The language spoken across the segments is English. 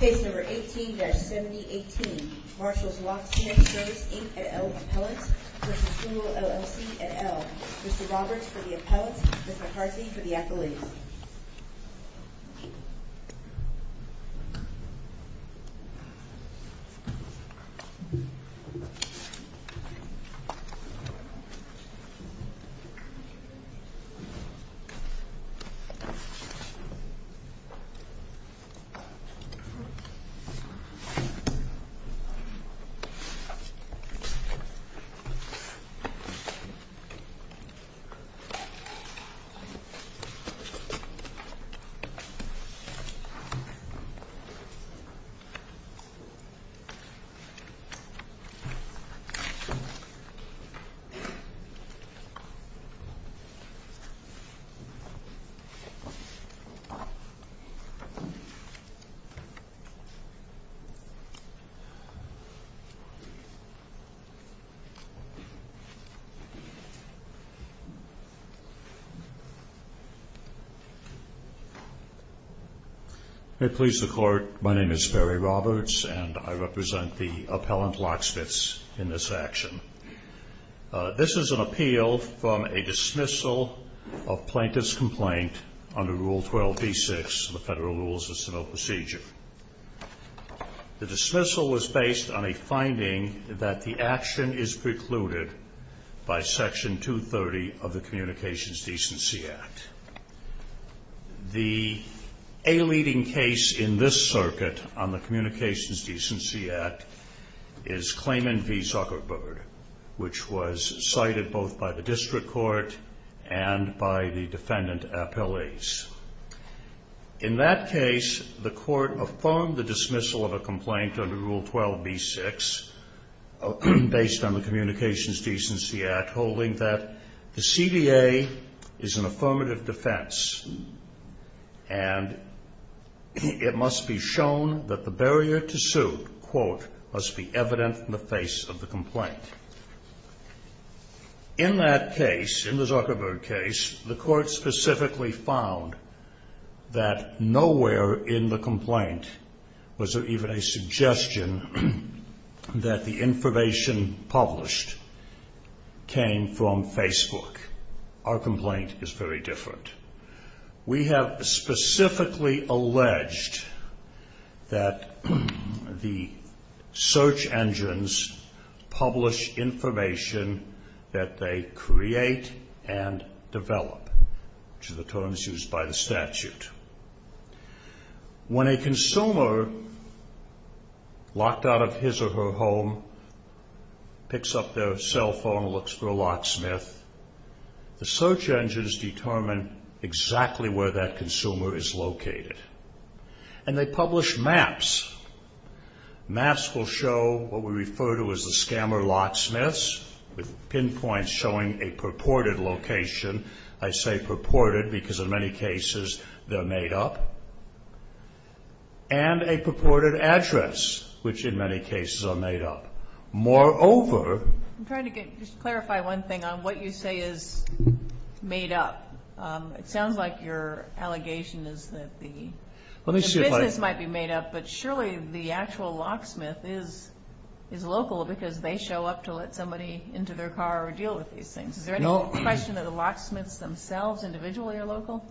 Case number 18-7018. Marshall's Locksmith Service, Inc. et al. Appellants v. Google, LLC et al. Mr. Roberts for the appellants, Ms. McCarthy for the accolades. Mr. Roberts. Thank you, Mr. Chairman. May it please the Court, my name is Barry Roberts and I represent the appellant locksmiths in this action. This is an appeal from a dismissal of plaintiff's complaint under Rule 12b-6 of the Federal Rules of Civil Procedure. The dismissal was based on a finding that the action is precluded by Section 230 of the Communications Decency Act. The a-leading case in this circuit on the Communications Decency Act is Clayman v. Zuckerberg, which was cited both by the District Court and by the defendant appellees. In that case, the Court affirmed the dismissal of a complaint under Rule 12b-6 based on the Communications Decency Act holding that the CDA is an affirmative defense and it must be shown that the barrier to suit, quote, must be evident in the face of the complaint. In that case, in the Zuckerberg case, the Court specifically found that nowhere in the complaint was there even a suggestion that the information published came from Facebook. Our complaint is very different. We have specifically alleged that the search engines publish information that they create and develop, which are the terms used by the statute. When a consumer, locked out of his or her home, picks up their cell phone and looks for a locksmith, the search engines determine exactly where that consumer is located. And they publish maps. Maps will show what we refer to as the scammer locksmiths, with pinpoints showing a purported location. I say purported because in many cases they're made up. And a purported address, which in many cases are made up. Moreover ---- I'm trying to clarify one thing on what you say is made up. It sounds like your allegation is that the business might be made up, but surely the actual locksmith is local because they show up to let somebody into their car or deal with these things. Is there any question that the locksmiths themselves individually are local?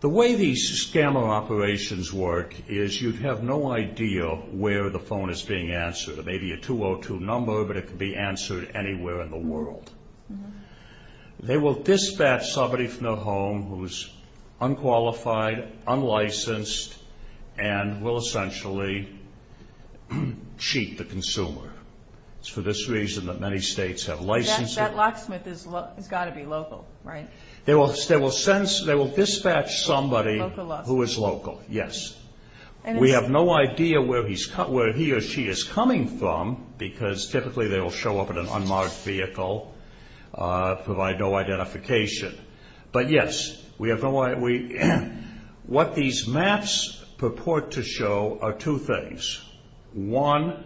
The way these scammer operations work is you'd have no idea where the phone is being answered. It may be a 202 number, but it could be answered anywhere in the world. They will dispatch somebody from their home who is unqualified, unlicensed, and will essentially cheat the consumer. It's for this reason that many states have licenses. That locksmith has got to be local, right? They will dispatch somebody who is local, yes. We have no idea where he or she is coming from because typically they will show up in an unmarked vehicle, provide no identification. But yes, what these maps purport to show are two things. One,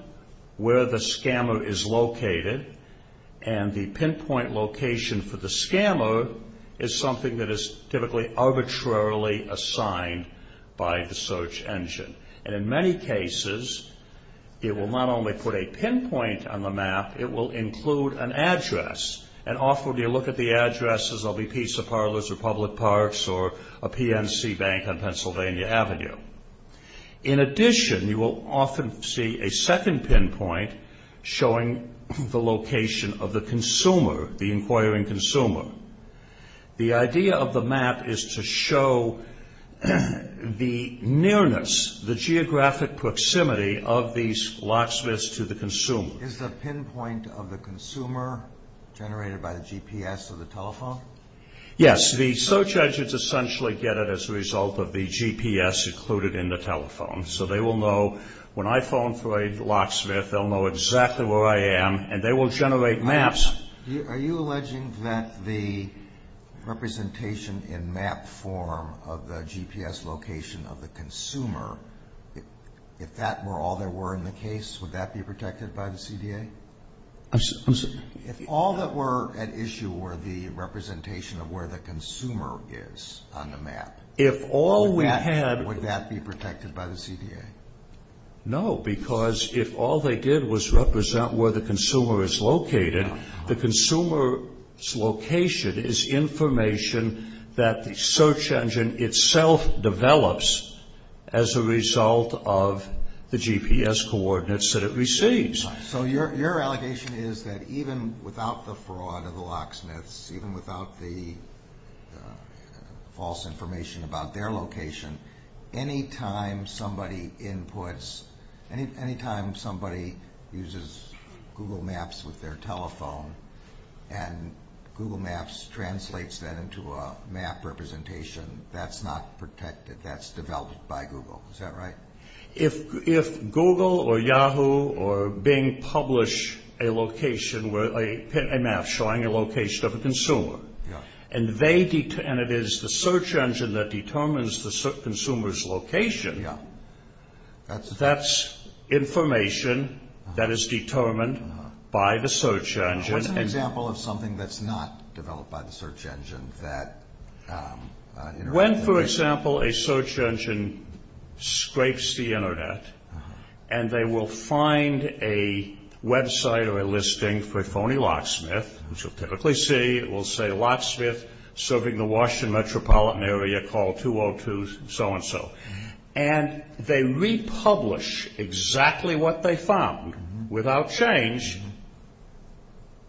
where the scammer is located, and the pinpoint location for the scammer is something that is typically arbitrarily assigned by the search engine. And in many cases, it will not only put a pinpoint on the map, it will include an address. And often when you look at the addresses, there will be pizza parlors or public parks or a PNC bank on Pennsylvania Avenue. In addition, you will often see a second pinpoint showing the location of the consumer, the inquiring consumer. The idea of the map is to show the nearness, the geographic proximity of these locksmiths to the consumer. Is the pinpoint of the consumer generated by the GPS of the telephone? Yes. The search engines essentially get it as a result of the GPS included in the telephone. So they will know when I phone for a locksmith, they'll know exactly where I am, and they will generate maps. Are you alleging that the representation in map form of the GPS location of the consumer, if that were all there were in the case, would that be protected by the CDA? I'm sorry? If all that were at issue were the representation of where the consumer is on the map, would that be protected by the CDA? No, because if all they did was represent where the consumer is located, the consumer's location is information that the search engine itself develops as a result of the GPS coordinates that it receives. So your allegation is that even without the fraud of the locksmiths, even without the false information about their location, any time somebody inputs, any time somebody uses Google Maps with their telephone and Google Maps translates that into a map representation, that's not protected, that's developed by Google. Is that right? If Google or Yahoo or Bing publish a map showing a location of a consumer, and it is the search engine that determines the consumer's location, that's information that is determined by the search engine. What's an example of something that's not developed by the search engine? When, for example, a search engine scrapes the Internet and they will find a website or a listing for a phony locksmith, which you'll typically see, it will say, locksmith serving the Washington metropolitan area, call 202 so-and-so, and they republish exactly what they found without change,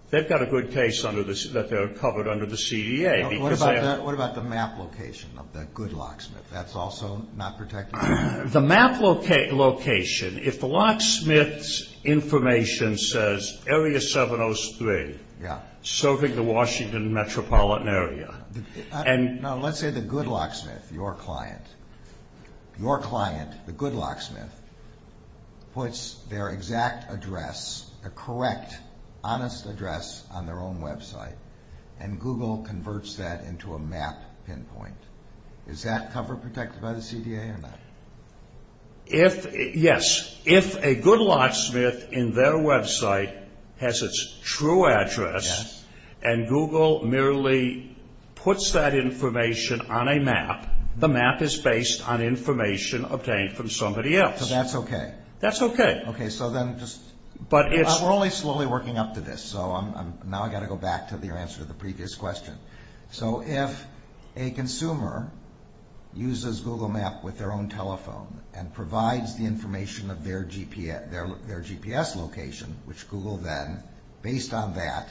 they've got a good case that they're covered under the CDA. What about the map location of the good locksmith? That's also not protected? The map location, if the locksmith's information says area 703, serving the Washington metropolitan area. Let's say the good locksmith, your client, the good locksmith, puts their exact address, the correct honest address on their own website, and Google converts that into a map pinpoint. Is that cover protected by the CDA or not? Yes. If a good locksmith in their website has its true address and Google merely puts that information on a map, the map is based on information obtained from somebody else. So that's okay? That's okay. We're only slowly working up to this, so now I've got to go back to your answer to the previous question. So if a consumer uses Google Map with their own telephone and provides the information of their GPS location, which Google then, based on that,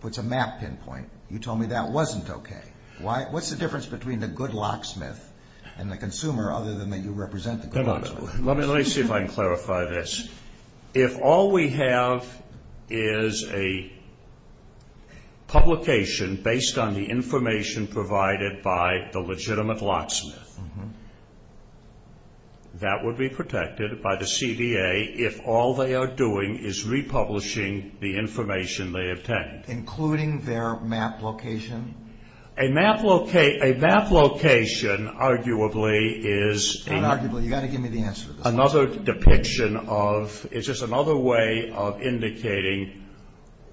puts a map pinpoint, you told me that wasn't okay. What's the difference between the good locksmith and the consumer, other than that you represent the good locksmith? Let me see if I can clarify this. If all we have is a publication based on the information provided by the legitimate locksmith, that would be protected by the CDA if all they are doing is republishing the information they obtained. Including their map location? A map location, arguably, is another depiction of, it's just another way of indicating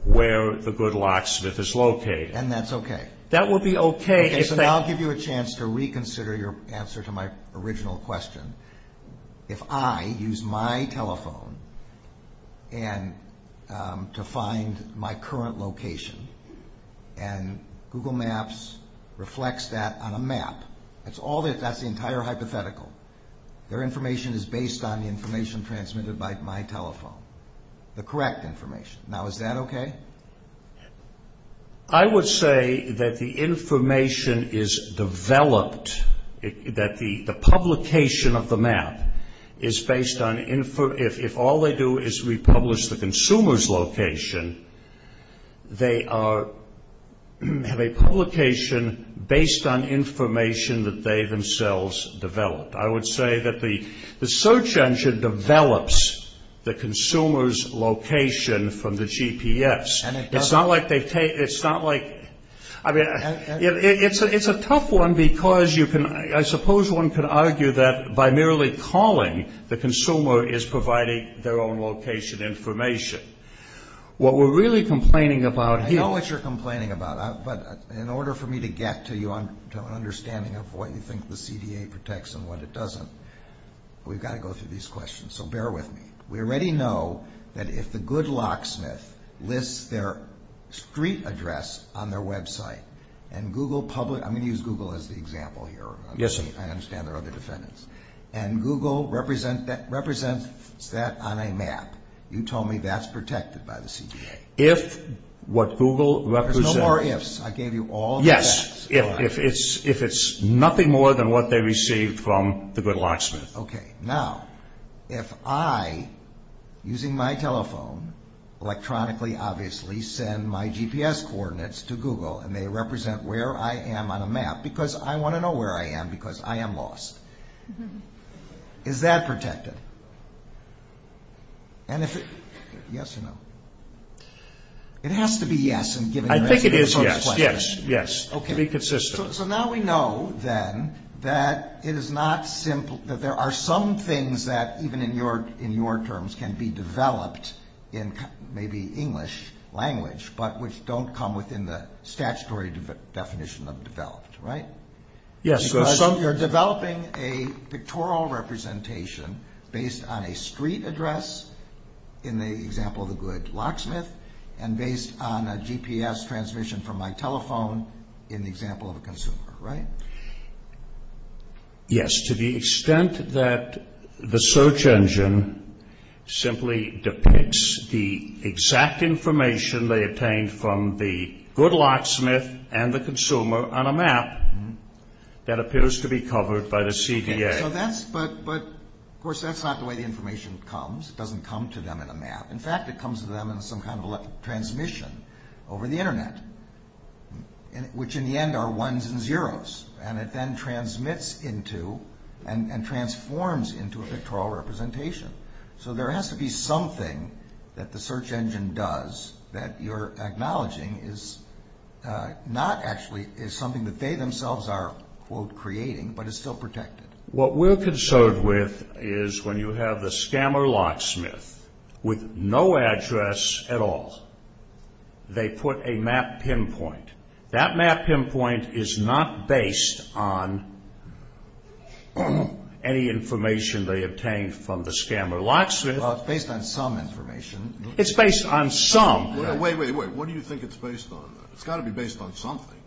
where the good locksmith is located. And that's okay? That would be okay. Okay, so now I'll give you a chance to reconsider your answer to my original question. If I use my telephone to find my current location and Google Maps reflects that on a map, that's the entire hypothetical. Their information is based on the information transmitted by my telephone. The correct information. Now, is that okay? I would say that the information is developed, that the publication of the map is based on, if all they do is republish the consumer's location, they have a publication based on information that they themselves developed. I would say that the search engine develops the consumer's location from the GPS. It's not like they take, it's not like, I mean, it's a tough one because you can, I suppose one could argue that by merely calling, the consumer is providing their own location information. What we're really complaining about here. I know what you're complaining about, but in order for me to get to an understanding of what you think the CDA protects and what it doesn't, we've got to go through these questions. So bear with me. We already know that if the good locksmith lists their street address on their website, and Google public, I'm going to use Google as the example here. Yes, sir. I understand there are other defendants. And Google represents that on a map. You told me that's protected by the CDA. If what Google represents. There's no more ifs. I gave you all the facts. Yes. If it's nothing more than what they received from the good locksmith. Okay. Now, if I, using my telephone, electronically, obviously, send my GPS coordinates to Google, and they represent where I am on a map, because I want to know where I am, because I am lost. Is that protected? Yes or no? It has to be yes. I think it is yes. Yes. Yes. Be consistent. So now we know, then, that it is not simple. There are some things that, even in your terms, can be developed in maybe English language, but which don't come within the statutory definition of developed, right? Yes. You're developing a pictorial representation based on a street address, in the example of the good locksmith, and based on a GPS transmission from my telephone in the example of a consumer, right? Yes. To the extent that the search engine simply depicts the exact information they obtained from the good locksmith and the consumer on a map that appears to be covered by the CDA. Okay. So that's, but, of course, that's not the way the information comes. It doesn't come to them in a map. In fact, it comes to them in some kind of electric transmission over the Internet, which, in the end, are ones and zeros, and it then transmits into and transforms into a pictorial representation. So there has to be something that the search engine does that you're acknowledging is not actually something that they themselves are, quote, creating, but is still protected. What we're concerned with is when you have the scammer locksmith with no address at all. They put a map pinpoint. That map pinpoint is not based on any information they obtained from the scammer locksmith. Well, it's based on some information. It's based on some. Wait, wait, wait. What do you think it's based on? It's got to be based on something.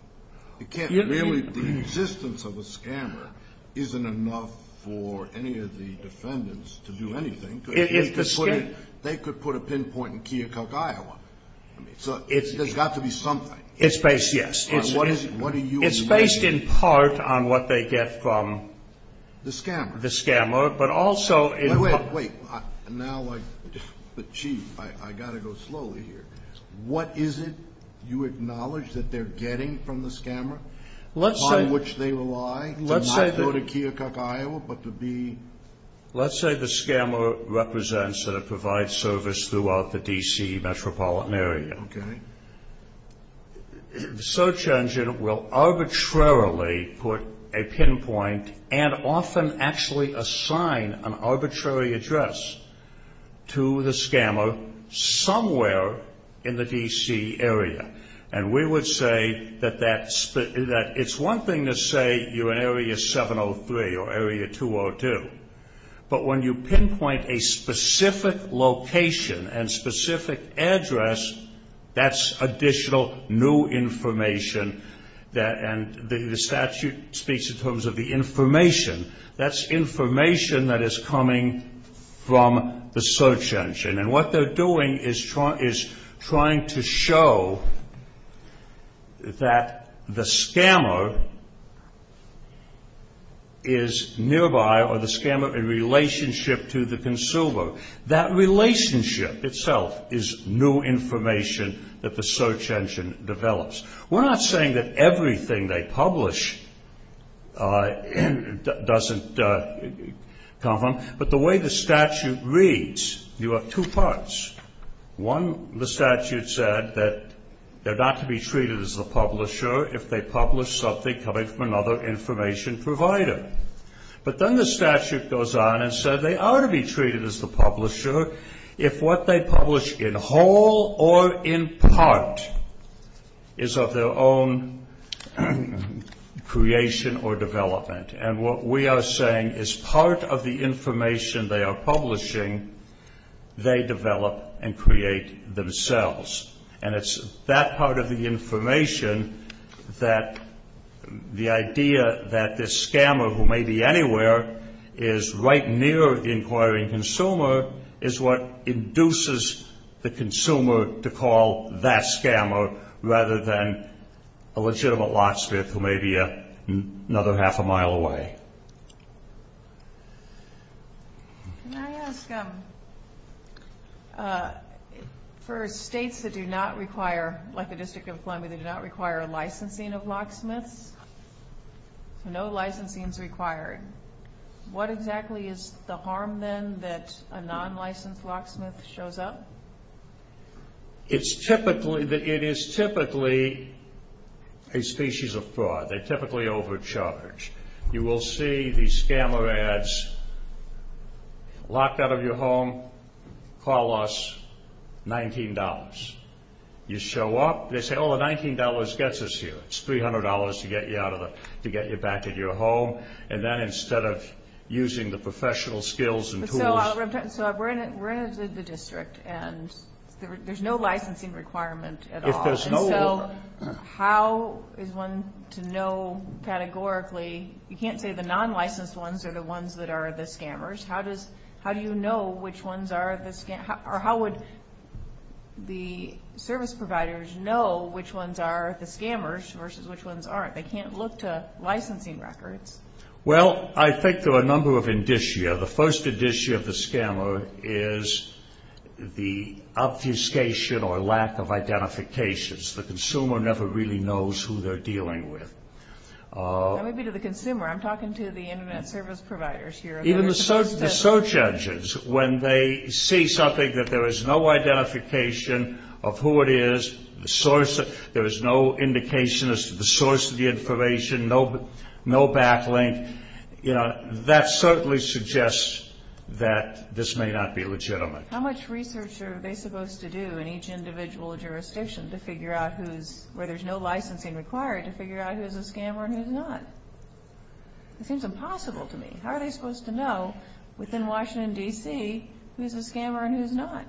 It can't really be. The existence of a scammer isn't enough for any of the defendants to do anything. They could put a pinpoint in Keokuk, Iowa. There's got to be something. It's based, yes. It's based in part on what they get from the scammer, but also in part. Wait, wait. Now, like, but, gee, I've got to go slowly here. What is it you acknowledge that they're getting from the scammer, on which they rely to not go to Keokuk, Iowa, but to be? Let's say the scammer represents and it provides service throughout the D.C. metropolitan area. Okay. The search engine will arbitrarily put a pinpoint and often actually assign an arbitrary address to the scammer somewhere in the D.C. area. And we would say that it's one thing to say you're in Area 703 or Area 202, but when you pinpoint a specific location and specific address, that's additional new information. And the statute speaks in terms of the information. That's information that is coming from the search engine. And what they're doing is trying to show that the scammer is nearby or the scammer in relationship to the consumer. That relationship itself is new information that the search engine develops. We're not saying that everything they publish doesn't come from them, but the way the statute reads, you have two parts. One, the statute said that they're not to be treated as the publisher if they publish something coming from another information provider. But then the statute goes on and says they are to be treated as the publisher if what they publish in whole or in part is of their own creation or development. And what we are saying is part of the information they are publishing, they develop and create themselves. And it's that part of the information that the idea that this scammer who may be anywhere is right near the inquiring consumer is what induces the consumer to call that scammer rather than a legitimate locksmith who may be another half a mile away. Can I ask, for states that do not require, like the District of Columbia, that do not require licensing of locksmiths, no licensing is required, what exactly is the harm then that a non-licensed locksmith shows up? It is typically a species of fraud. They're typically overcharged. You will see these scammer ads, locked out of your home, call us, $19. You show up, they say, oh, $19 gets us here. It's $300 to get you back at your home. And then instead of using the professional skills and tools. So we're in the district, and there's no licensing requirement at all. If there's no one. And so how is one to know categorically? You can't say the non-licensed ones are the ones that are the scammers. How do you know which ones are the scammers? Or how would the service providers know which ones are the scammers versus which ones aren't? They can't look to licensing records. Well, I think there are a number of indicia. The first indicia of the scammer is the obfuscation or lack of identification. The consumer never really knows who they're dealing with. Maybe to the consumer. I'm talking to the Internet service providers here. Even the search engines, when they see something that there is no identification of who it is, there is no indication as to the source of the information, no backlink, that certainly suggests that this may not be legitimate. How much research are they supposed to do in each individual jurisdiction to figure out who's where there's no licensing required to figure out who's a scammer and who's not? It seems impossible to me. How are they supposed to know within Washington, D.C., who's a scammer and who's not?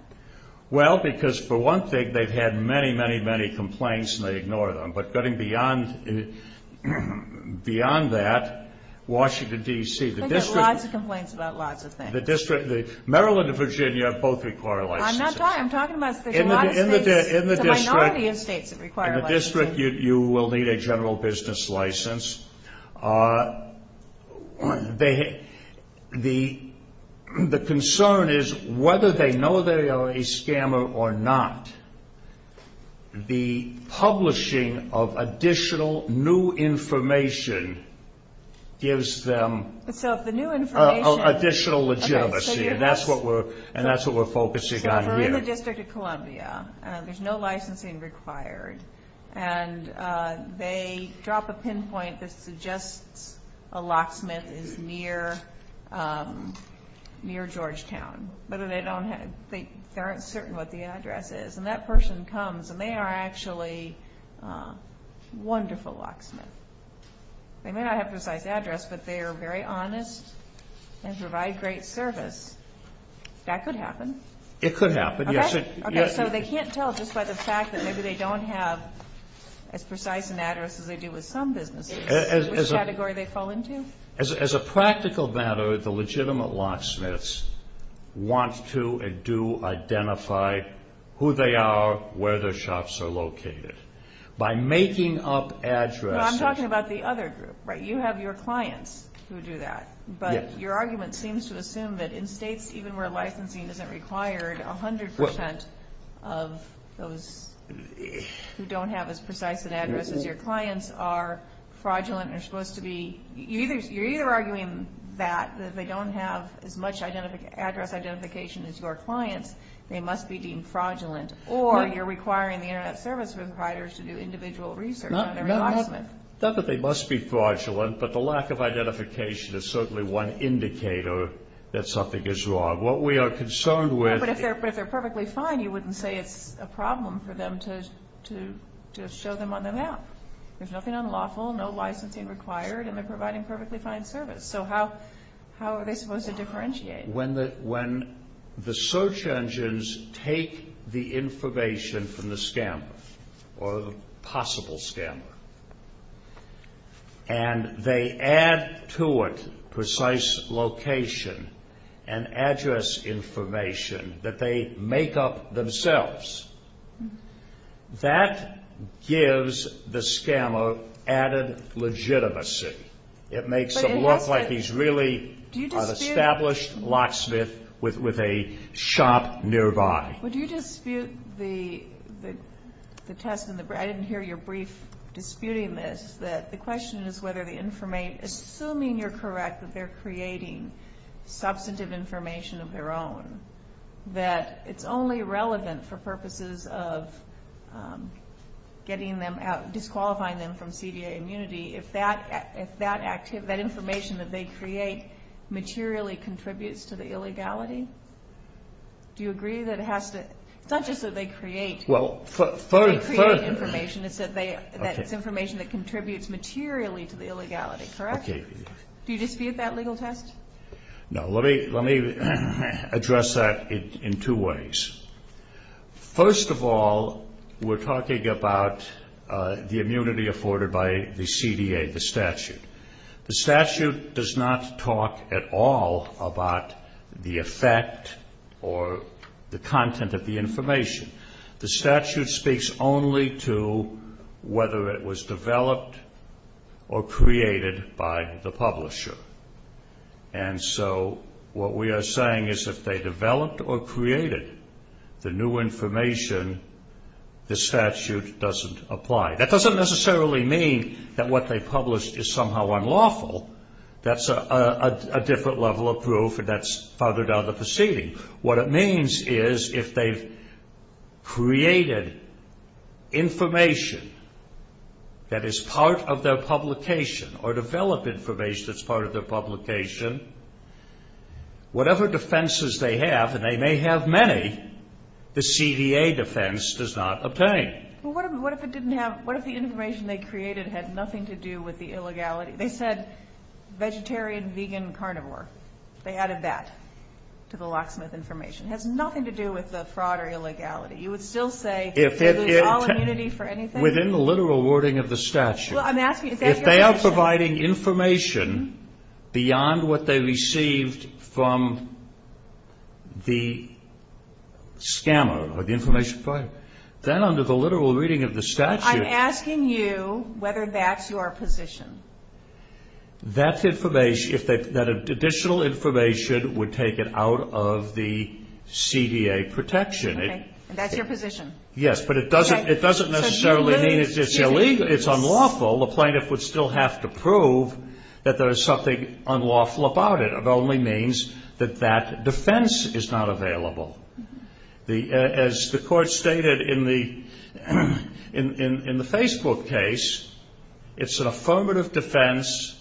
Well, because, for one thing, they've had many, many, many complaints and they ignore them. But going beyond that, Washington, D.C. I think there are lots of complaints about lots of things. Maryland and Virginia both require licensing. I'm talking about the minority of states that require licensing. In the district, you will need a general business license. The concern is whether they know they are a scammer or not. The publishing of additional new information gives them additional legitimacy, and that's what we're focusing on here. So we're in the District of Columbia. There's no licensing required. And they drop a pinpoint that suggests a locksmith is near Georgetown, but they aren't certain what the address is. And that person comes, and they are actually wonderful locksmiths. They may not have a precise address, but they are very honest and provide great service. That could happen. It could happen, yes. Okay, so they can't tell just by the fact that maybe they don't have as precise an address as they do with some businesses. Which category do they fall into? As a practical matter, the legitimate locksmiths want to and do identify who they are, where their shops are located. By making up addresses. No, I'm talking about the other group, right? You have your clients who do that. But your argument seems to assume that in states even where licensing isn't required, 100% of those who don't have as precise an address as your clients are fraudulent and are supposed to be. You're either arguing that, that they don't have as much address identification as your clients, they must be deemed fraudulent, or you're requiring the Internet Service Providers to do individual research on every locksmith. Not that they must be fraudulent, but the lack of identification is certainly one indicator that something is wrong. What we are concerned with... But if they're perfectly fine, you wouldn't say it's a problem for them to show them on the map. There's nothing unlawful, no licensing required, and they're providing perfectly fine service. So how are they supposed to differentiate? When the search engines take the information from the scammer, or the possible scammer, and they add to it precise location and address information that they make up themselves, that gives the scammer added legitimacy. It makes them look like these really established locksmiths with a shop nearby. Would you dispute the test and the... I didn't hear your brief disputing this, that the question is whether the information... Assuming you're correct that they're creating substantive information of their own, that it's only relevant for purposes of getting them out, disqualifying them from CDA immunity, if that information that they create materially contributes to the illegality? Do you agree that it has to... It's not just that they create information. It's that it's information that contributes materially to the illegality, correct? Do you dispute that legal test? No. Let me address that in two ways. First of all, we're talking about the immunity afforded by the CDA, the statute. The statute does not talk at all about the effect or the content of the information. The statute speaks only to whether it was developed or created by the publisher. And so what we are saying is if they developed or created the new information, the statute doesn't apply. That doesn't necessarily mean that what they published is somehow unlawful. That's a different level of proof, and that's farther down the proceeding. What it means is if they've created information that is part of their publication or developed information that's part of their publication, whatever defenses they have, and they may have many, the CDA defense does not obtain. Well, what if the information they created had nothing to do with the illegality? They said vegetarian, vegan, carnivore. They added that to the locksmith information. It has nothing to do with the fraud or illegality. You would still say that there's all immunity for anything? Within the literal wording of the statute. Well, I'm asking if that's your position. If they are providing information beyond what they received from the scammer or the information provider, then under the literal reading of the statute. I'm asking you whether that's your position. That's information, if that additional information would take it out of the CDA protection. Okay. And that's your position? Yes, but it doesn't necessarily mean it's illegal. It's unlawful. The plaintiff would still have to prove that there is something unlawful about it. It only means that that defense is not available. As the Court stated in the Facebook case, it's an affirmative defense,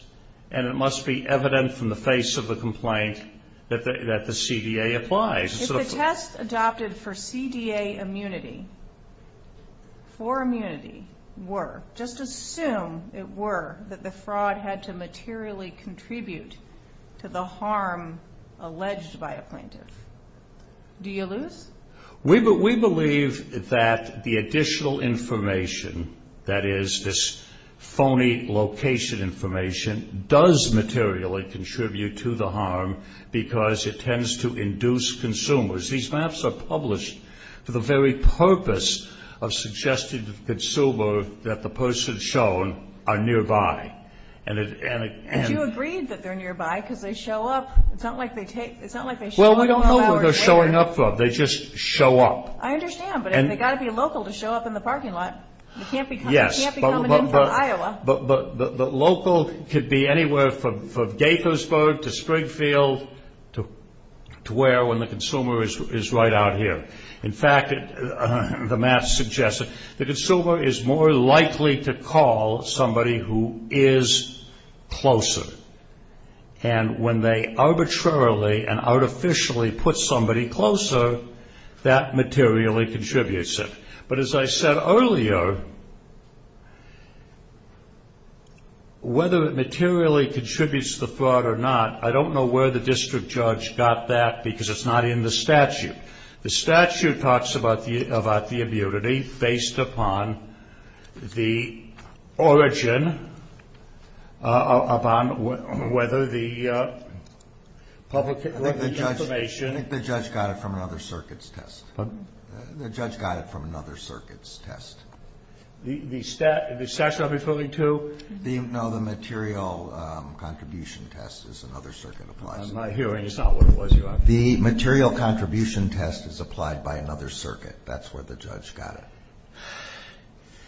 and it must be evident from the face of the complaint that the CDA applies. If the test adopted for CDA immunity, for immunity, were, just assume it were that the fraud had to materially contribute to the harm alleged by a plaintiff, do you lose? We believe that the additional information, that is, this phony location information, does materially contribute to the harm because it tends to induce consumers. These maps are published for the very purpose of suggesting to the consumer that the persons shown are nearby. And you agreed that they're nearby because they show up. It's not like they show up 12 hours later. Well, we don't know where they're showing up from. They just show up. I understand, but they've got to be local to show up in the parking lot. They can't be coming in from Iowa. But the local could be anywhere from Gaithersburg to Springfield to where when the consumer is right out here. In fact, the map suggests that the consumer is more likely to call somebody who is closer. And when they arbitrarily and artificially put somebody closer, that materially contributes it. But as I said earlier, whether it materially contributes to the fraud or not, I don't know where the district judge got that because it's not in the statute. The statute talks about the immunity based upon the origin upon whether the public information. I think the judge got it from another circuit's test. Pardon? The judge got it from another circuit's test. The statute I'm referring to? No, the material contribution test is another circuit applies to. I'm not hearing. It's not what it was, Your Honor. The material contribution test is applied by another circuit. That's where the judge got it.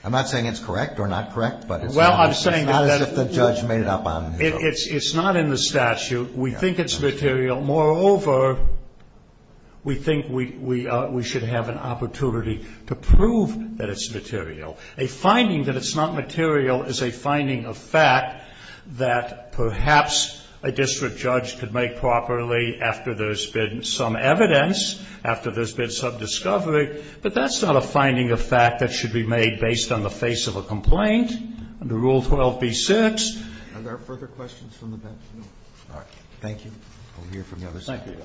I'm not saying it's correct or not correct, but it's not as if the judge made it up on his own. It's not in the statute. We think it's material. Moreover, we think we should have an opportunity to prove that it's material. A finding that it's not material is a finding of fact that perhaps a district judge could make properly after there's been some evidence, after there's been some discovery. But that's not a finding of fact that should be made based on the face of a complaint under Rule 12b-6. Are there further questions from the bench? No. Thank you. I'll hear from the other side. Thank you,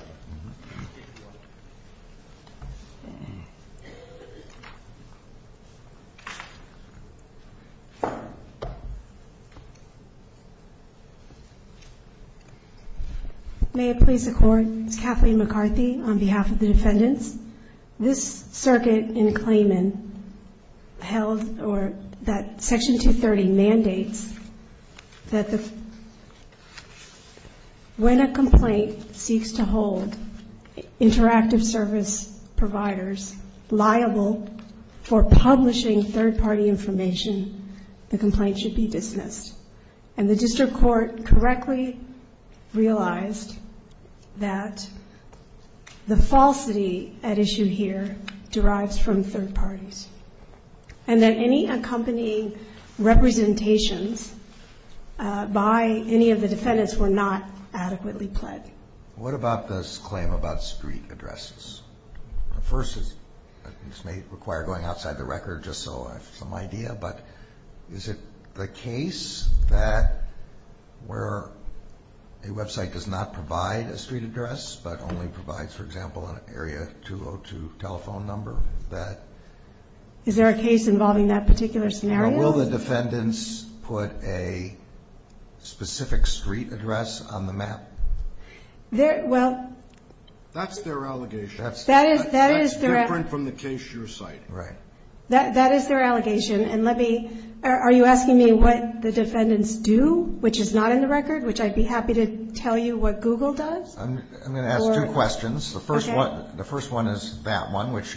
Your Honor. May it please the Court. It's Kathleen McCarthy on behalf of the defendants. This circuit in Clayman held that Section 230 mandates that when a complaint seeks to hold interactive service providers liable for publishing third-party information, and the district court correctly realized that the falsity at issue here derives from third parties, and that any accompanying representations by any of the defendants were not adequately pled. What about this claim about street addresses? First, this may require going outside the record just so I have some idea, but is it the case that where a website does not provide a street address but only provides, for example, an area 202 telephone number? Is there a case involving that particular scenario? Or will the defendants put a specific street address on the map? That's their allegation. That's different from the case you're citing. Right. That is their allegation. Are you asking me what the defendants do, which is not in the record, which I'd be happy to tell you what Google does? I'm going to ask two questions. The first one is that one, which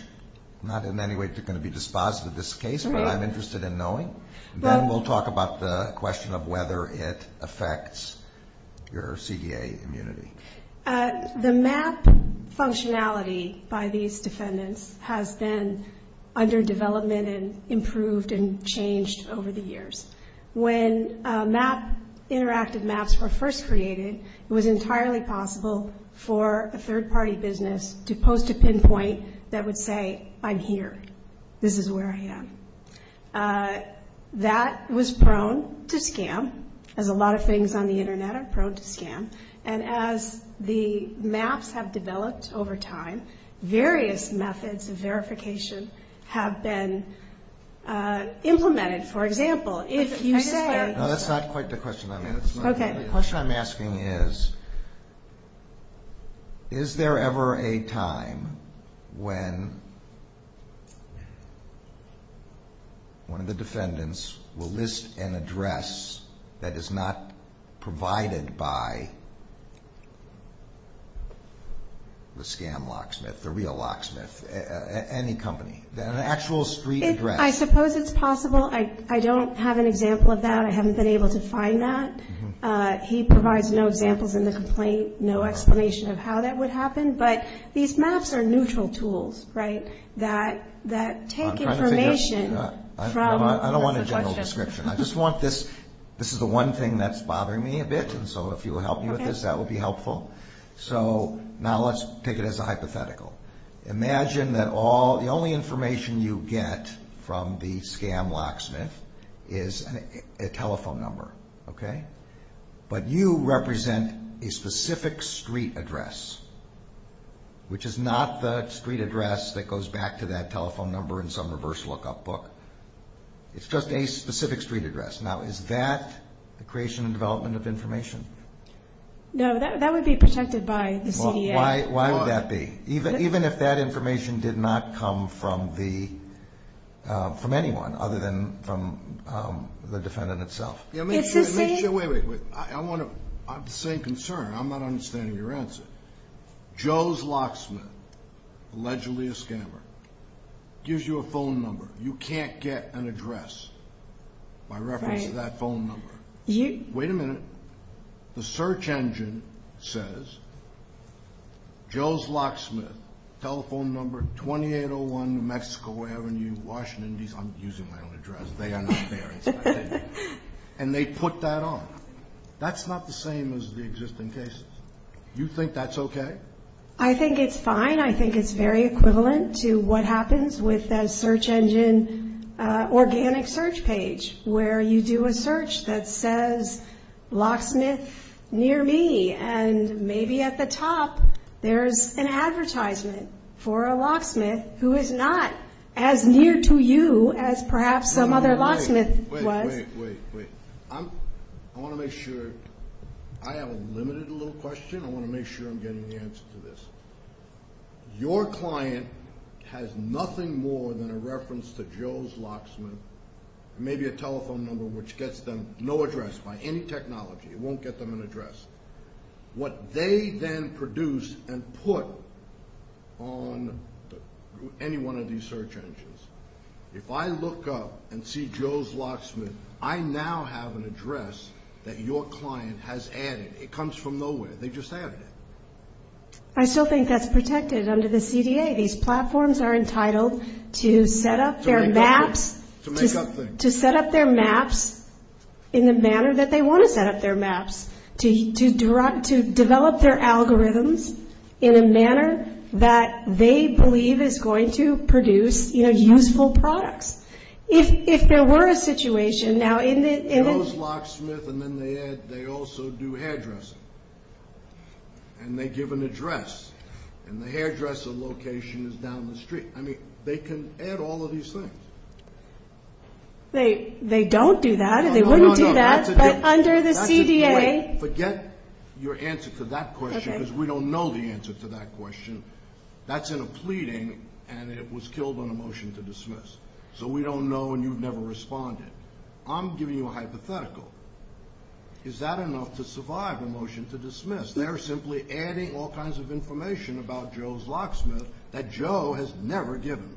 not in any way is going to be dispositive of this case, but I'm interested in knowing. Then we'll talk about the question of whether it affects your CDA immunity. The map functionality by these defendants has been under development and improved and changed over the years. When interactive maps were first created, it was entirely possible for a third-party business to post a pinpoint that would say, I'm here, this is where I am. That was prone to scam, as a lot of things on the Internet are prone to scam. And as the maps have developed over time, various methods of verification have been implemented. For example, if you say... No, that's not quite the question I meant. The question I'm asking is, is there ever a time when one of the defendants will list an address that is not provided by the scam locksmith, the real locksmith, any company? An actual street address. I suppose it's possible. I don't have an example of that. I haven't been able to find that. He provides no examples in the complaint, no explanation of how that would happen. But these maps are neutral tools that take information from... I don't want a general description. I just want this... This is the one thing that's bothering me a bit, and so if you'll help me with this, that would be helpful. So now let's take it as a hypothetical. Imagine that the only information you get from the scam locksmith is a telephone number. But you represent a specific street address, which is not the street address that goes back to that telephone number in some reverse lookup book. It's just a specific street address. Now is that the creation and development of information? No, that would be protected by the CDA. Why would that be, even if that information did not come from anyone other than from the defendant itself? It's the same... Wait, wait, wait. I have the same concern. I'm not understanding your answer. Joe's locksmith, allegedly a scammer, gives you a phone number. You can't get an address by reference to that phone number. Wait a minute. The search engine says Joe's locksmith, telephone number 2801 New Mexico Avenue, Washington... I'm using my own address. They are not there. And they put that on. That's not the same as the existing cases. You think that's okay? I think it's fine. I think it's very equivalent to what happens with a search engine organic search page, where you do a search that says locksmith near me, and maybe at the top there's an advertisement for a locksmith who is not as near to you as perhaps some other locksmith was. Wait, wait, wait. I want to make sure... I have a limited little question. I want to make sure I'm getting the answer to this. Your client has nothing more than a reference to Joe's locksmith, maybe a telephone number which gets them no address by any technology. It won't get them an address. What they then produce and put on any one of these search engines... If I look up and see Joe's locksmith, I now have an address that your client has added. It comes from nowhere. They just added it. I still think that's protected under the CDA. These platforms are entitled to set up their maps in the manner that they want to set up their maps, to develop their algorithms in a manner that they believe is going to produce useful products. If there were a situation... And they give an address, and the hairdresser location is down the street. I mean, they can add all of these things. They don't do that. They wouldn't do that. No, no, no. But under the CDA... Forget your answer to that question because we don't know the answer to that question. That's in a pleading, and it was killed on a motion to dismiss. So we don't know, and you've never responded. I'm giving you a hypothetical. Is that enough to survive a motion to dismiss? They're simply adding all kinds of information about Joe's locksmith that Joe has never given.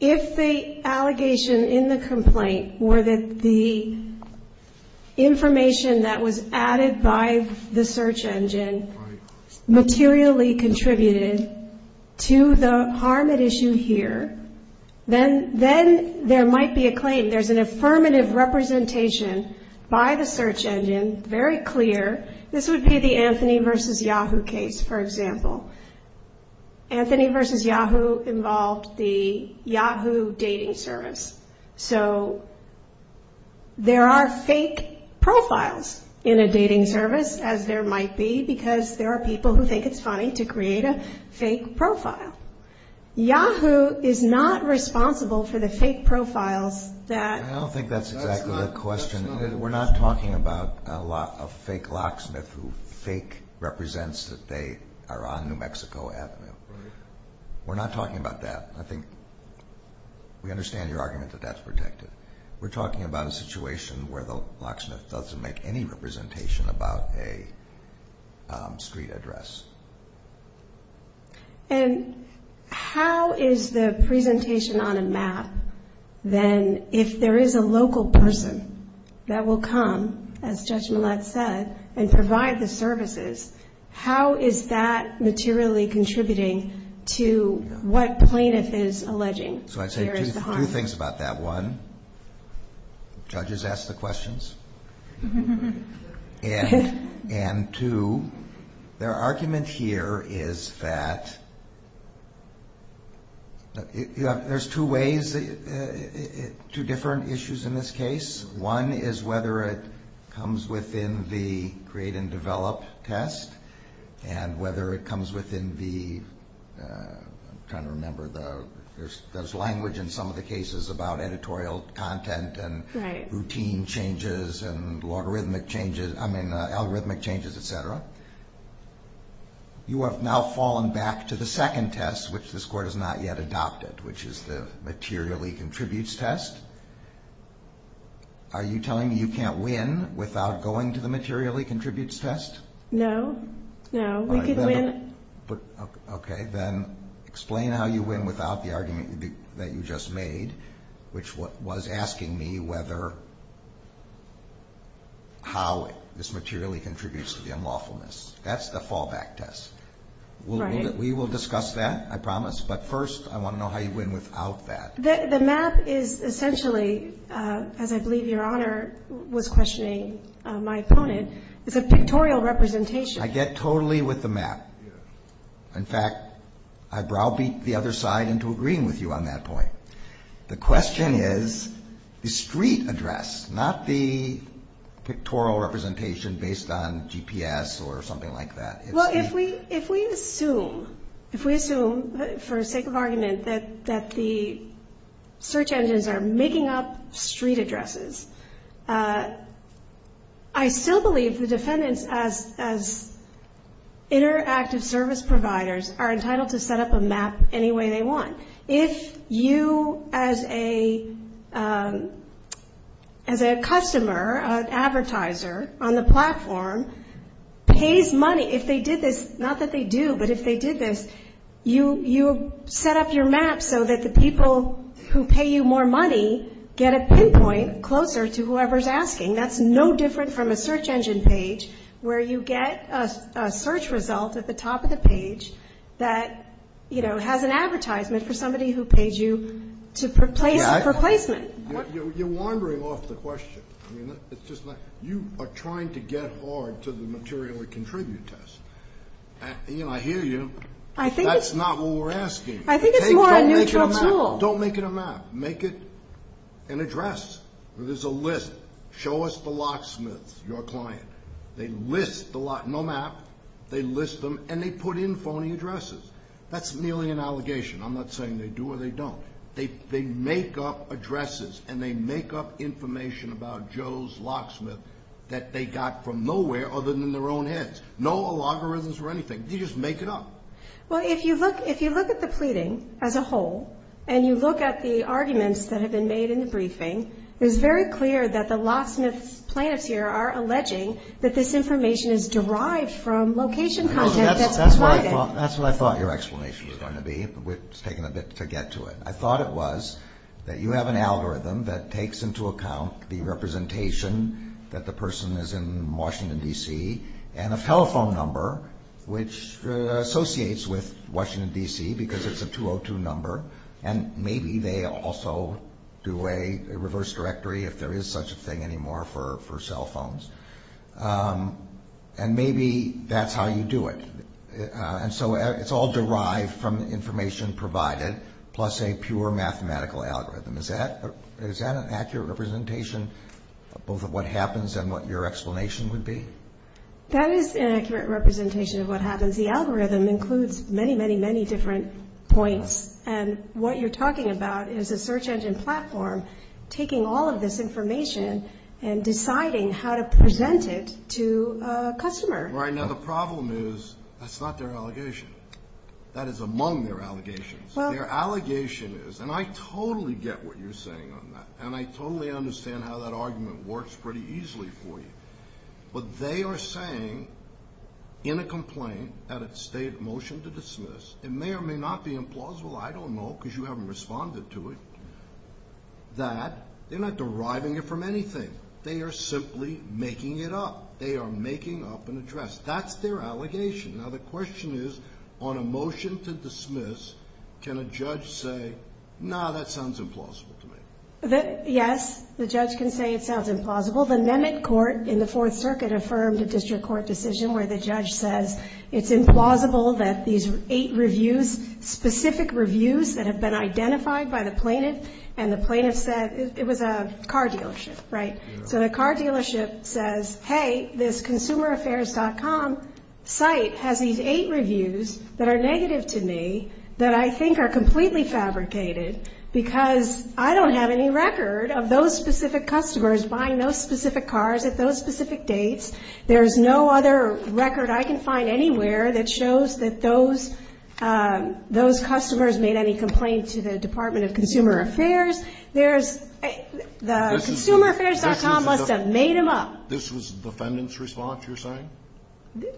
If the allegation in the complaint were that the information that was added by the search engine materially contributed to the harm at issue here, then there might be a claim. There's an affirmative representation by the search engine, very clear. This would be the Anthony v. Yahoo case, for example. Anthony v. Yahoo involved the Yahoo dating service. So there are fake profiles in a dating service, as there might be, because there are people who think it's funny to create a fake profile. Yahoo is not responsible for the fake profiles that... I don't think that's exactly the question. We're not talking about a fake locksmith who fake represents that they are on New Mexico Avenue. We're not talking about that. I think we understand your argument that that's protected. We're talking about a situation where the locksmith doesn't make any representation about a street address. And how is the presentation on a map, then, if there is a local person that will come, as Judge Millett said, and provide the services, how is that materially contributing to what plaintiff is alleging? So I'd say two things about that. One, judges ask the questions. And two, their argument here is that there's two ways, two different issues in this case. One is whether it comes within the create and develop test, and whether it comes within the... I'm trying to remember... There's language in some of the cases about editorial content and routine changes and logarithmic changes... I mean, algorithmic changes, et cetera. You have now fallen back to the second test, which this Court has not yet adopted, which is the materially contributes test. Are you telling me you can't win without going to the materially contributes test? No. No, we could win. Okay. Then explain how you win without the argument that you just made, which was asking me whether how this materially contributes to the unlawfulness. That's the fallback test. Right. We will discuss that, I promise. But first, I want to know how you win without that. The map is essentially, as I believe Your Honor was questioning my opponent, is a pictorial representation. I get totally with the map. In fact, I browbeat the other side into agreeing with you on that point. The question is the street address, not the pictorial representation based on GPS or something like that. Well, if we assume, if we assume for the sake of argument that the search engines are making up street addresses, I still believe the defendants, as interactive service providers, are entitled to set up a map any way they want. If you, as a customer, an advertiser on the platform, pays money, if they did this, not that they do, but if they did this, you set up your map so that the people who pay you more money get a pinpoint closer to whoever's asking. That's no different from a search engine page where you get a search result at the top of the page that, you know, has an advertisement for somebody who paid you for placement. You're wandering off the question. I mean, it's just like you are trying to get hard to the materially contribute test. You know, I hear you. That's not what we're asking. I think it's more a neutral tool. Don't make it a map. Make it an address where there's a list. Show us the locksmiths, your client. They list the locksmiths. No map. They list them, and they put in phony addresses. That's merely an allegation. I'm not saying they do or they don't. They make up addresses, and they make up information about Joe's locksmith that they got from nowhere other than their own heads. No logarithms or anything. They just make it up. Well, if you look at the pleading as a whole and you look at the arguments that have been made in the briefing, it is very clear that the locksmith's plaintiffs here are alleging that this information is derived from location content that's provided. That's what I thought your explanation was going to be. It's taken a bit to get to it. I thought it was that you have an algorithm that takes into account the representation that the person is in Washington, D.C., and a telephone number which associates with Washington, D.C. because it's a 202 number, and maybe they also do a reverse directory if there is such a thing anymore for cell phones. And maybe that's how you do it. And so it's all derived from information provided plus a pure mathematical algorithm. Is that an accurate representation of both of what happens and what your explanation would be? That is an accurate representation of what happens. The algorithm includes many, many, many different points. And what you're talking about is a search engine platform taking all of this information and deciding how to present it to a customer. Right. Now, the problem is that's not their allegation. That is among their allegations. Their allegation is, and I totally get what you're saying on that, and I totally understand how that argument works pretty easily for you, but they are saying in a complaint at a state motion to dismiss, it may or may not be implausible, I don't know because you haven't responded to it, that they're not deriving it from anything. They are simply making it up. They are making up an address. That's their allegation. Now, the question is, on a motion to dismiss, can a judge say, no, that sounds implausible to me? Yes, the judge can say it sounds implausible. The Mehmet Court in the Fourth Circuit affirmed a district court decision where the judge says it's implausible that these eight reviews, specific reviews that have been identified by the plaintiff, and the plaintiff said it was a car dealership, right? So the car dealership says, hey, this consumeraffairs.com site has these eight reviews that are negative to me, that I think are completely fabricated because I don't have any record of those specific customers buying those specific cars at those specific dates. There is no other record I can find anywhere that shows that those customers made any complaint to the Department of Consumer Affairs. There's the consumeraffairs.com must have made them up. This was the defendant's response, you're saying?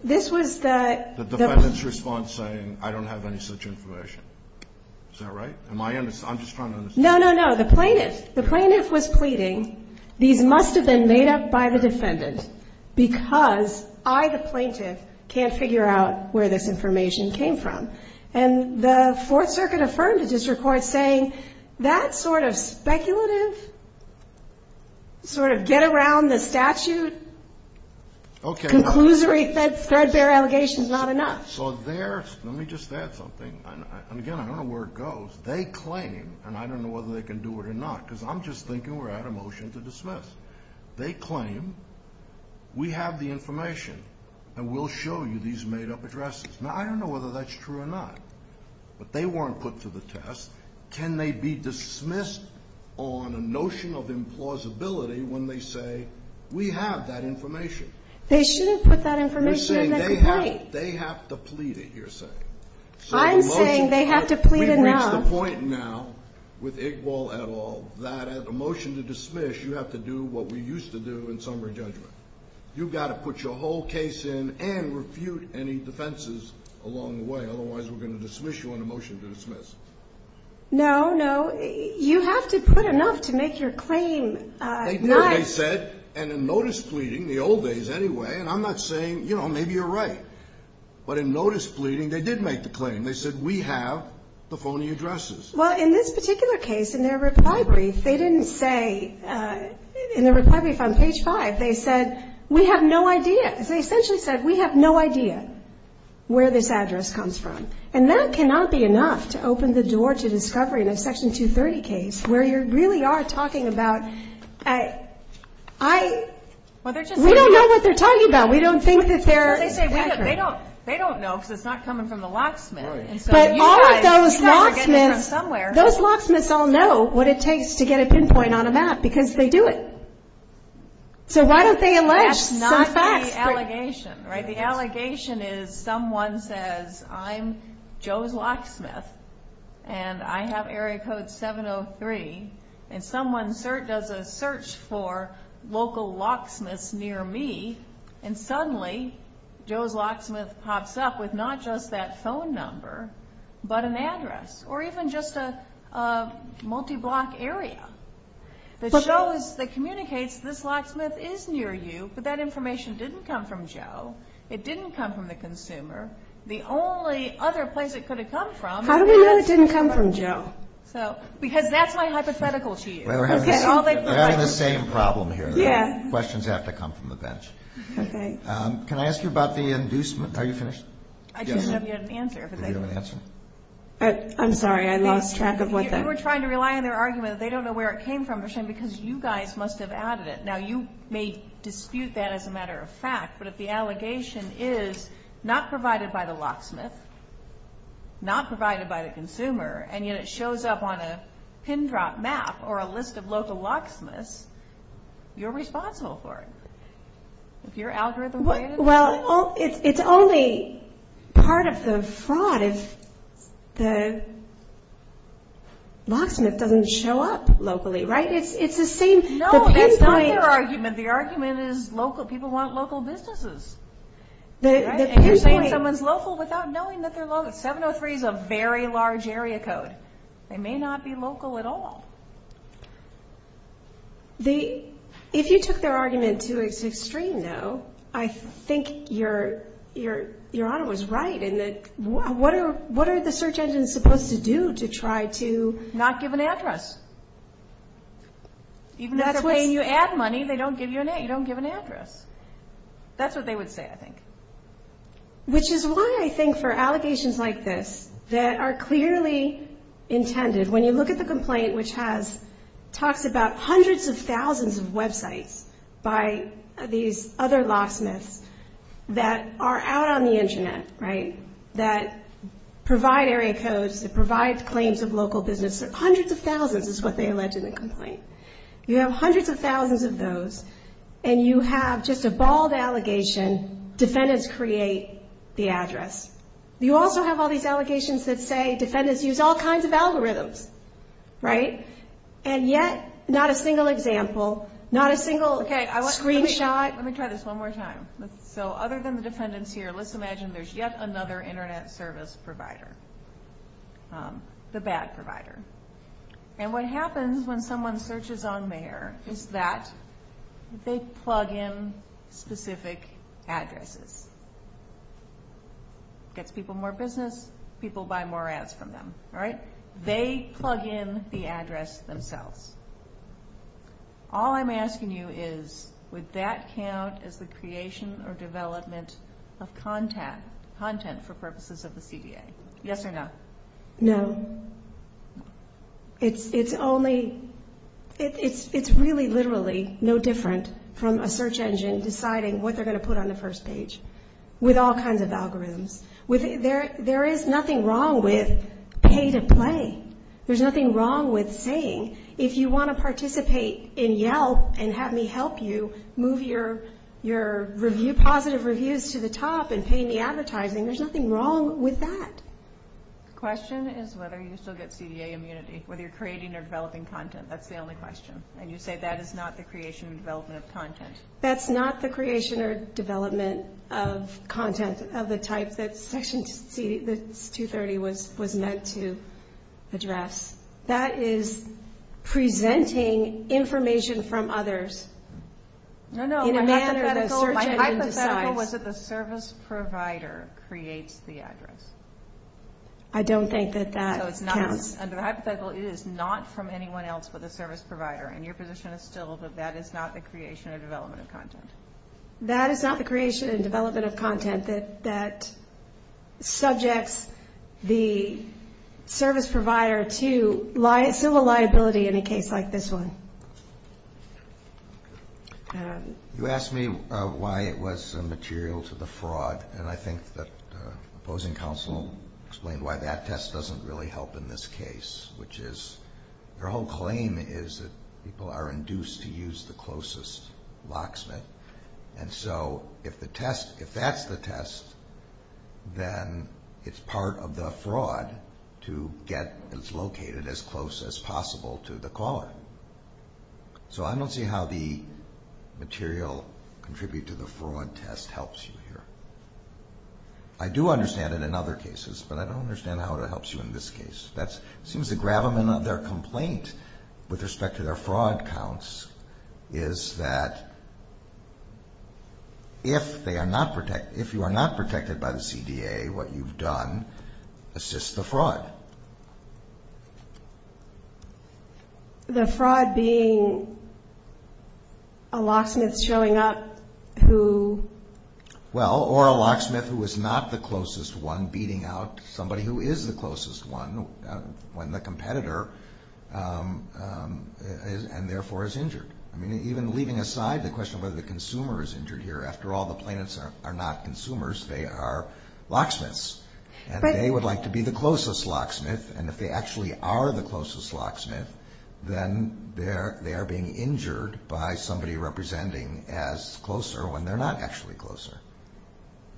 This was the... The defendant's response saying, I don't have any such information. Is that right? I'm just trying to understand. No, no, no. The plaintiff. The plaintiff was pleading. These must have been made up by the defendant because I, the plaintiff, can't figure out where this information came from. And the Fourth Circuit affirmed to district court saying that sort of speculative sort of get-around-the-statute conclusory threadbare allegation is not enough. So there's, let me just add something. And, again, I don't know where it goes. They claim, and I don't know whether they can do it or not because I'm just thinking we're at a motion to dismiss. They claim we have the information and we'll show you these made-up addresses. Now, I don't know whether that's true or not. But they weren't put to the test. Can they be dismissed on a notion of implausibility when they say we have that information? They shouldn't put that information in the complaint. You're saying they have to plead it, you're saying. I'm saying they have to plead it now. We've reached the point now with Igbal et al that at a motion to dismiss, you have to do what we used to do in summary judgment. You've got to put your whole case in and refute any defenses along the way. Otherwise, we're going to dismiss you on a motion to dismiss. No, no. You have to put enough to make your claim not. They did, they said. And in notice pleading, the old days anyway, and I'm not saying, you know, maybe you're right. But in notice pleading, they did make the claim. They said we have the phony addresses. Well, in this particular case, in their reply brief, they didn't say, in their reply brief on page 5, they said we have no idea. They essentially said we have no idea where this address comes from. And that cannot be enough to open the door to discovery in a Section 230 case where you really are talking about. We don't know what they're talking about. We don't think that they're. They don't know because it's not coming from the locksmith. But all of those locksmiths. You guys are getting it from somewhere. Those locksmiths all know what it takes to get a pinpoint on a map because they do it. So why don't they enlarge some facts? That's not the allegation, right? The allegation is someone says, I'm Joe's locksmith, and I have area code 703, and someone does a search for local locksmiths near me, and suddenly Joe's locksmith pops up with not just that phone number but an address or even just a multi-block area that shows, that communicates this locksmith is near you, but that information didn't come from Joe. It didn't come from the consumer. The only other place it could have come from. How do we know it didn't come from Joe? Because that's my hypothetical to you. We're having the same problem here. Yeah. Questions have to come from the bench. Okay. Can I ask you about the inducement? Are you finished? I just don't know if you have an answer. Do you have an answer? I'm sorry. I lost track of what that was. You were trying to rely on their argument that they don't know where it came from, because you guys must have added it. Now, you may dispute that as a matter of fact, but if the allegation is not provided by the locksmith, not provided by the consumer, and yet it shows up on a pin drop map or a list of local locksmiths, you're responsible for it. If your algorithm is. Well, it's only part of the fraud if the locksmith doesn't show up locally, right? It's the same. No, that's not their argument. The argument is local. People want local businesses. And you're saying someone's local without knowing that they're local. 703 is a very large area code. They may not be local at all. If you took their argument to its extreme, though, I think Your Honor was right in that what are the search engines supposed to do to try to... Not give an address. Even if they're paying you ad money, they don't give you an address. That's what they would say, I think. Which is why I think for allegations like this that are clearly intended, when you look at the complaint which talks about hundreds of thousands of websites by these other locksmiths that are out on the Internet, right, that provide area codes, that provide claims of local business. Hundreds of thousands is what they allege in the complaint. You have hundreds of thousands of those, and you have just a bald allegation, defendants create the address. You also have all these allegations that say defendants use all kinds of algorithms. And yet not a single example, not a single screenshot. Let me try this one more time. So other than the defendants here, let's imagine there's yet another Internet service provider, the bad provider. And what happens when someone searches on there is that they plug in specific addresses. Gets people more business, people buy more ads from them, right? They plug in the address themselves. All I'm asking you is would that count as the creation or development of content for purposes of the CDA? Yes or no? No. It's really literally no different from a search engine deciding what they're going to put on the first page with all kinds of algorithms. There is nothing wrong with pay to play. There's nothing wrong with saying if you want to participate in Yelp and have me help you move your positive reviews to the top and pay me advertising. There's nothing wrong with that. The question is whether you still get CDA immunity, whether you're creating or developing content. That's the only question. And you say that is not the creation or development of content. That's not the creation or development of content of the type that Section 230 was meant to address. That is presenting information from others in a manner that search engine decides. The idea was that the service provider creates the address. I don't think that that counts. So it's not, under the hypothetical, it is not from anyone else but the service provider. And your position is still that that is not the creation or development of content. That is not the creation and development of content that subjects the service provider to civil liability in a case like this one. You asked me why it was immaterial to the fraud. And I think that opposing counsel explained why that test doesn't really help in this case, which is their whole claim is that people are induced to use the closest locksmith. And so if that's the test, then it's part of the fraud to get it located as close as possible to the caller. So I don't see how the material contribute to the fraud test helps you here. I do understand it in other cases, but I don't understand how it helps you in this case. It seems the gravamen of their complaint with respect to their fraud counts is that if they are not protected, if you are not protected by the CDA, what you've done assists the fraud. The fraud being a locksmith showing up who? Well, or a locksmith who is not the closest one beating out somebody who is the closest one when the competitor and therefore is injured. I mean, even leaving aside the question of whether the consumer is injured here, after all, the plaintiffs are not consumers. They are locksmiths. And they would like to be the closest locksmith. And if they actually are the closest locksmith, then they are being injured by somebody representing as closer when they're not actually closer.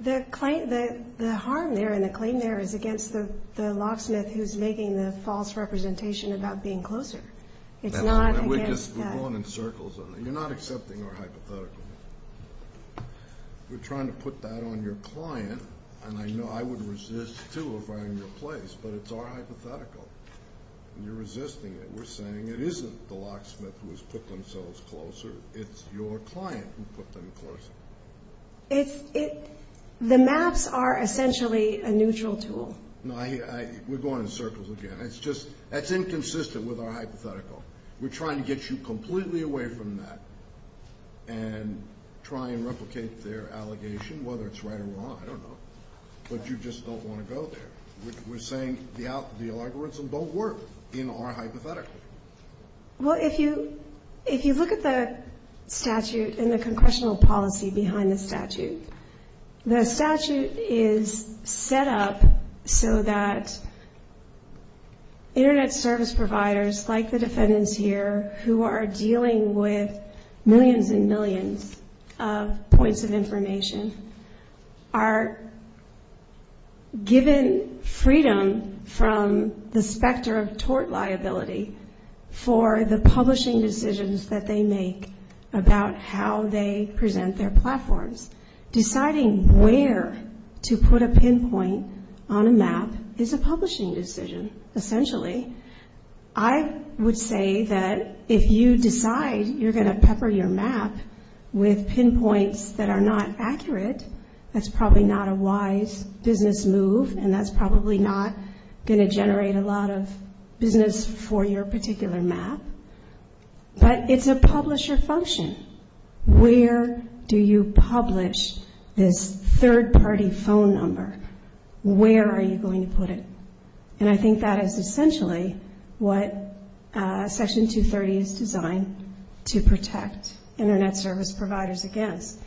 The claim, the harm there and the claim there is against the locksmith who's making the false representation about being closer. It's not against. We're going in circles on it. You're not accepting our hypothetical. We're trying to put that on your client. And I know I would resist, too, if I were in your place. But it's our hypothetical. And you're resisting it. We're saying it isn't the locksmith who has put themselves closer. It's your client who put them closer. The maps are essentially a neutral tool. No, we're going in circles again. It's inconsistent with our hypothetical. We're trying to get you completely away from that. And try and replicate their allegation, whether it's right or wrong, I don't know. But you just don't want to go there. We're saying the algorithms don't work in our hypothetical. Well, if you look at the statute and the congressional policy behind the statute, the statute is set up so that Internet service providers, like the defendants here, who are dealing with millions and millions of points of information, are given freedom from the specter of tort liability for the publishing decisions that they make about how they present their platforms. Deciding where to put a pinpoint on a map is a publishing decision, essentially. I would say that if you decide you're going to pepper your map with pinpoints that are not accurate, that's probably not a wise business move, and that's probably not going to generate a lot of business for your particular map. But it's a publisher function. Where do you publish this third-party phone number? Where are you going to put it? And I think that is essentially what Section 230 is designed to protect Internet service providers against.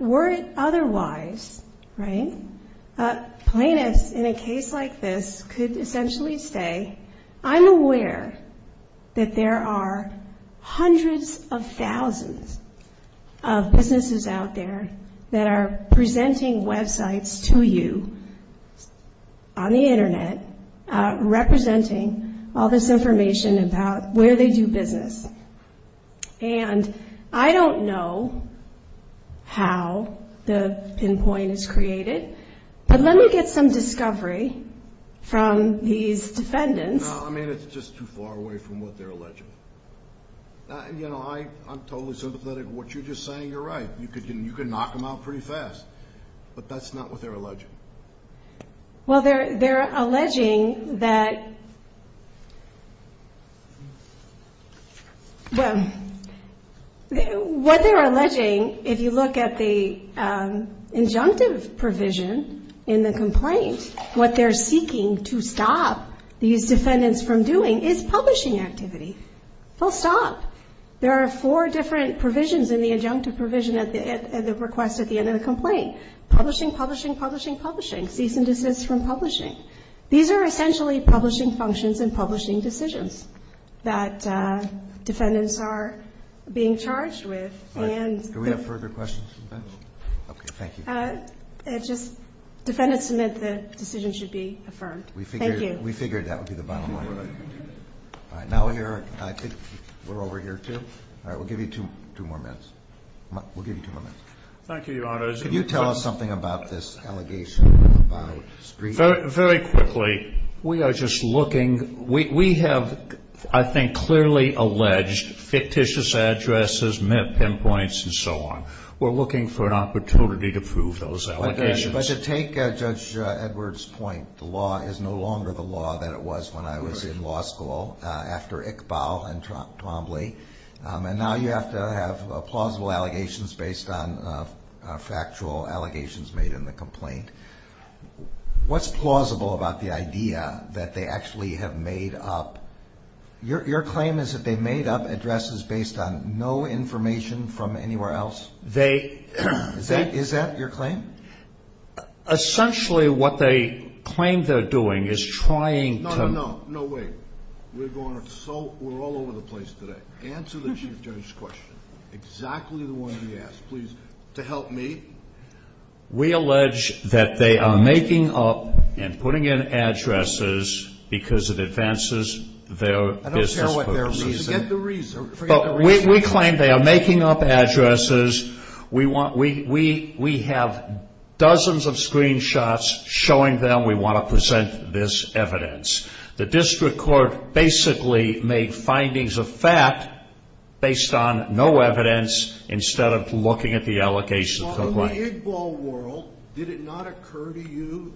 Were it otherwise, right, plaintiffs in a case like this could essentially say, I'm aware that there are hundreds of thousands of businesses out there that are presenting websites to you on the Internet, representing all this information about where they do business. And I don't know how the pinpoint is created, but let me get some discovery from these defendants. No, I mean, it's just too far away from what they're alleging. You know, I'm totally sympathetic to what you're just saying. You're right. You can knock them out pretty fast, but that's not what they're alleging. Well, they're alleging that, well, what they're alleging, if you look at the injunctive provision in the complaint, what they're seeking to stop these defendants from doing is publishing activity. They'll stop. There are four different provisions in the injunctive provision at the request at the end of the complaint. Publishing, publishing, publishing, publishing. Cease and desist from publishing. These are essentially publishing functions and publishing decisions that defendants are being charged with. All right. Do we have further questions? No. Okay. Thank you. Just defendants submit that the decision should be affirmed. Thank you. We figured that would be the bottom line. All right. Now we're here. I think we're over here, too. All right. We'll give you two more minutes. We'll give you two more minutes. Thank you, Your Honor. Could you tell us something about this allegation about screeching? Very quickly. We are just looking. We have, I think, clearly alleged fictitious addresses, pinpoints, and so on. We're looking for an opportunity to prove those allegations. But to take Judge Edwards' point, the law is no longer the law that it was when I was in law school after Iqbal and Twombly, and now you have to have plausible allegations based on factual allegations made in the complaint. What's plausible about the idea that they actually have made up? Your claim is that they made up addresses based on no information from anywhere else? Is that your claim? Essentially, what they claim they're doing is trying to – No, no, no. No, wait. We're all over the place today. Answer the Chief Judge's question, exactly the one he asked, please, to help me. We allege that they are making up and putting in addresses because it advances their business purposes. I don't care what their reason. Forget the reason. But we claim they are making up addresses. We have dozens of screenshots showing them we want to present this evidence. The district court basically made findings of fact based on no evidence instead of looking at the allegations of the complaint. In the Iqbal world, did it not occur to you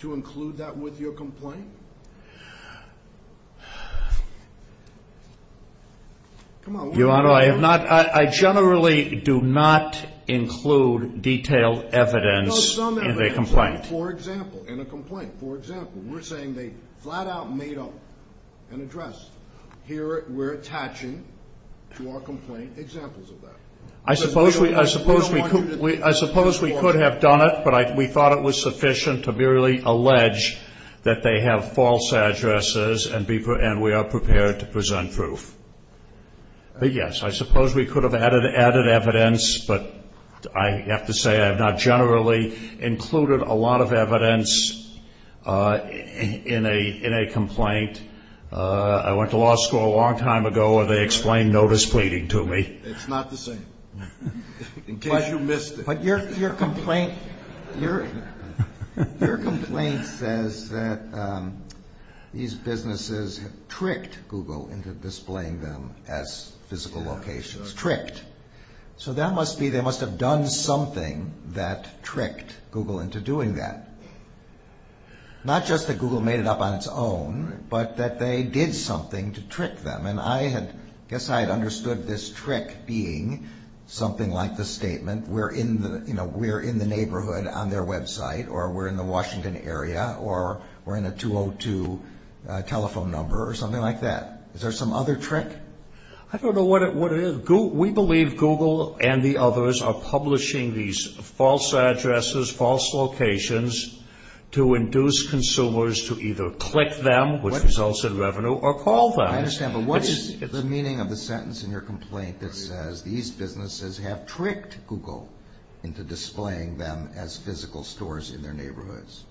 to include that with your complaint? Your Honor, I generally do not include detailed evidence in a complaint. For example, in a complaint, for example, we're saying they flat out made up an address. Here we're attaching to our complaint examples of that. I suppose we could have done it, but we thought it was sufficient to merely allege that they have false addresses and we are prepared to present proof. Yes, I suppose we could have added evidence, but I have to say I have not generally included a lot of evidence in a complaint. I went to law school a long time ago and they explained notice pleading to me. It's not the same. In case you missed it. But your complaint says that these businesses tricked Google into displaying them as physical locations, tricked. So that must be they must have done something that tricked Google into doing that. Not just that Google made it up on its own, but that they did something to trick them. I guess I had understood this trick being something like the statement. We're in the neighborhood on their website or we're in the Washington area or we're in a 202 telephone number or something like that. Is there some other trick? I don't know what it is. We believe Google and the others are publishing these false addresses, false locations to induce consumers to either click them, which results in revenue, or call them. I understand. But what is the meaning of the sentence in your complaint that says these businesses have tricked Google into displaying them as physical stores in their neighborhoods?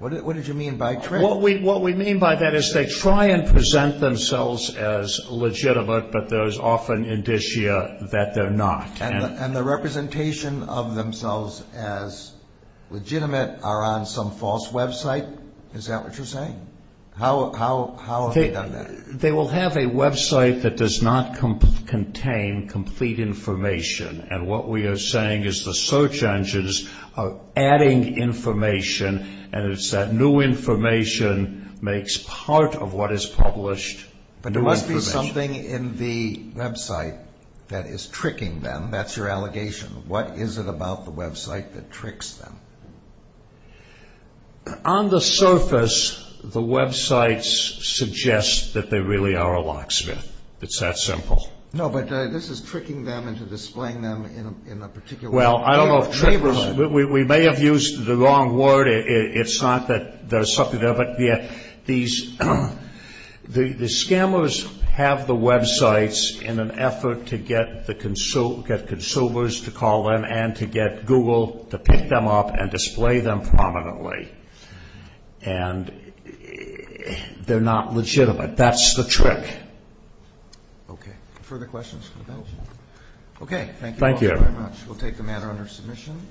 What did you mean by trick? What we mean by that is they try and present themselves as legitimate, but there's often indicia that they're not. And the representation of themselves as legitimate are on some false website. Is that what you're saying? How have they done that? They will have a website that does not contain complete information. And what we are saying is the search engines are adding information and it's that new information makes part of what is published new information. But there must be something in the website that is tricking them. That's your allegation. What is it about the website that tricks them? On the surface, the websites suggest that they really are a locksmith. It's that simple. No, but this is tricking them into displaying them in a particular neighborhood. We may have used the wrong word. It's not that there's something there. But the scammers have the websites in an effort to get consumers to call in and to get Google to pick them up and display them prominently. And they're not legitimate. That's the trick. Okay. Further questions? Okay. Thank you all very much. We'll take the matter under submission.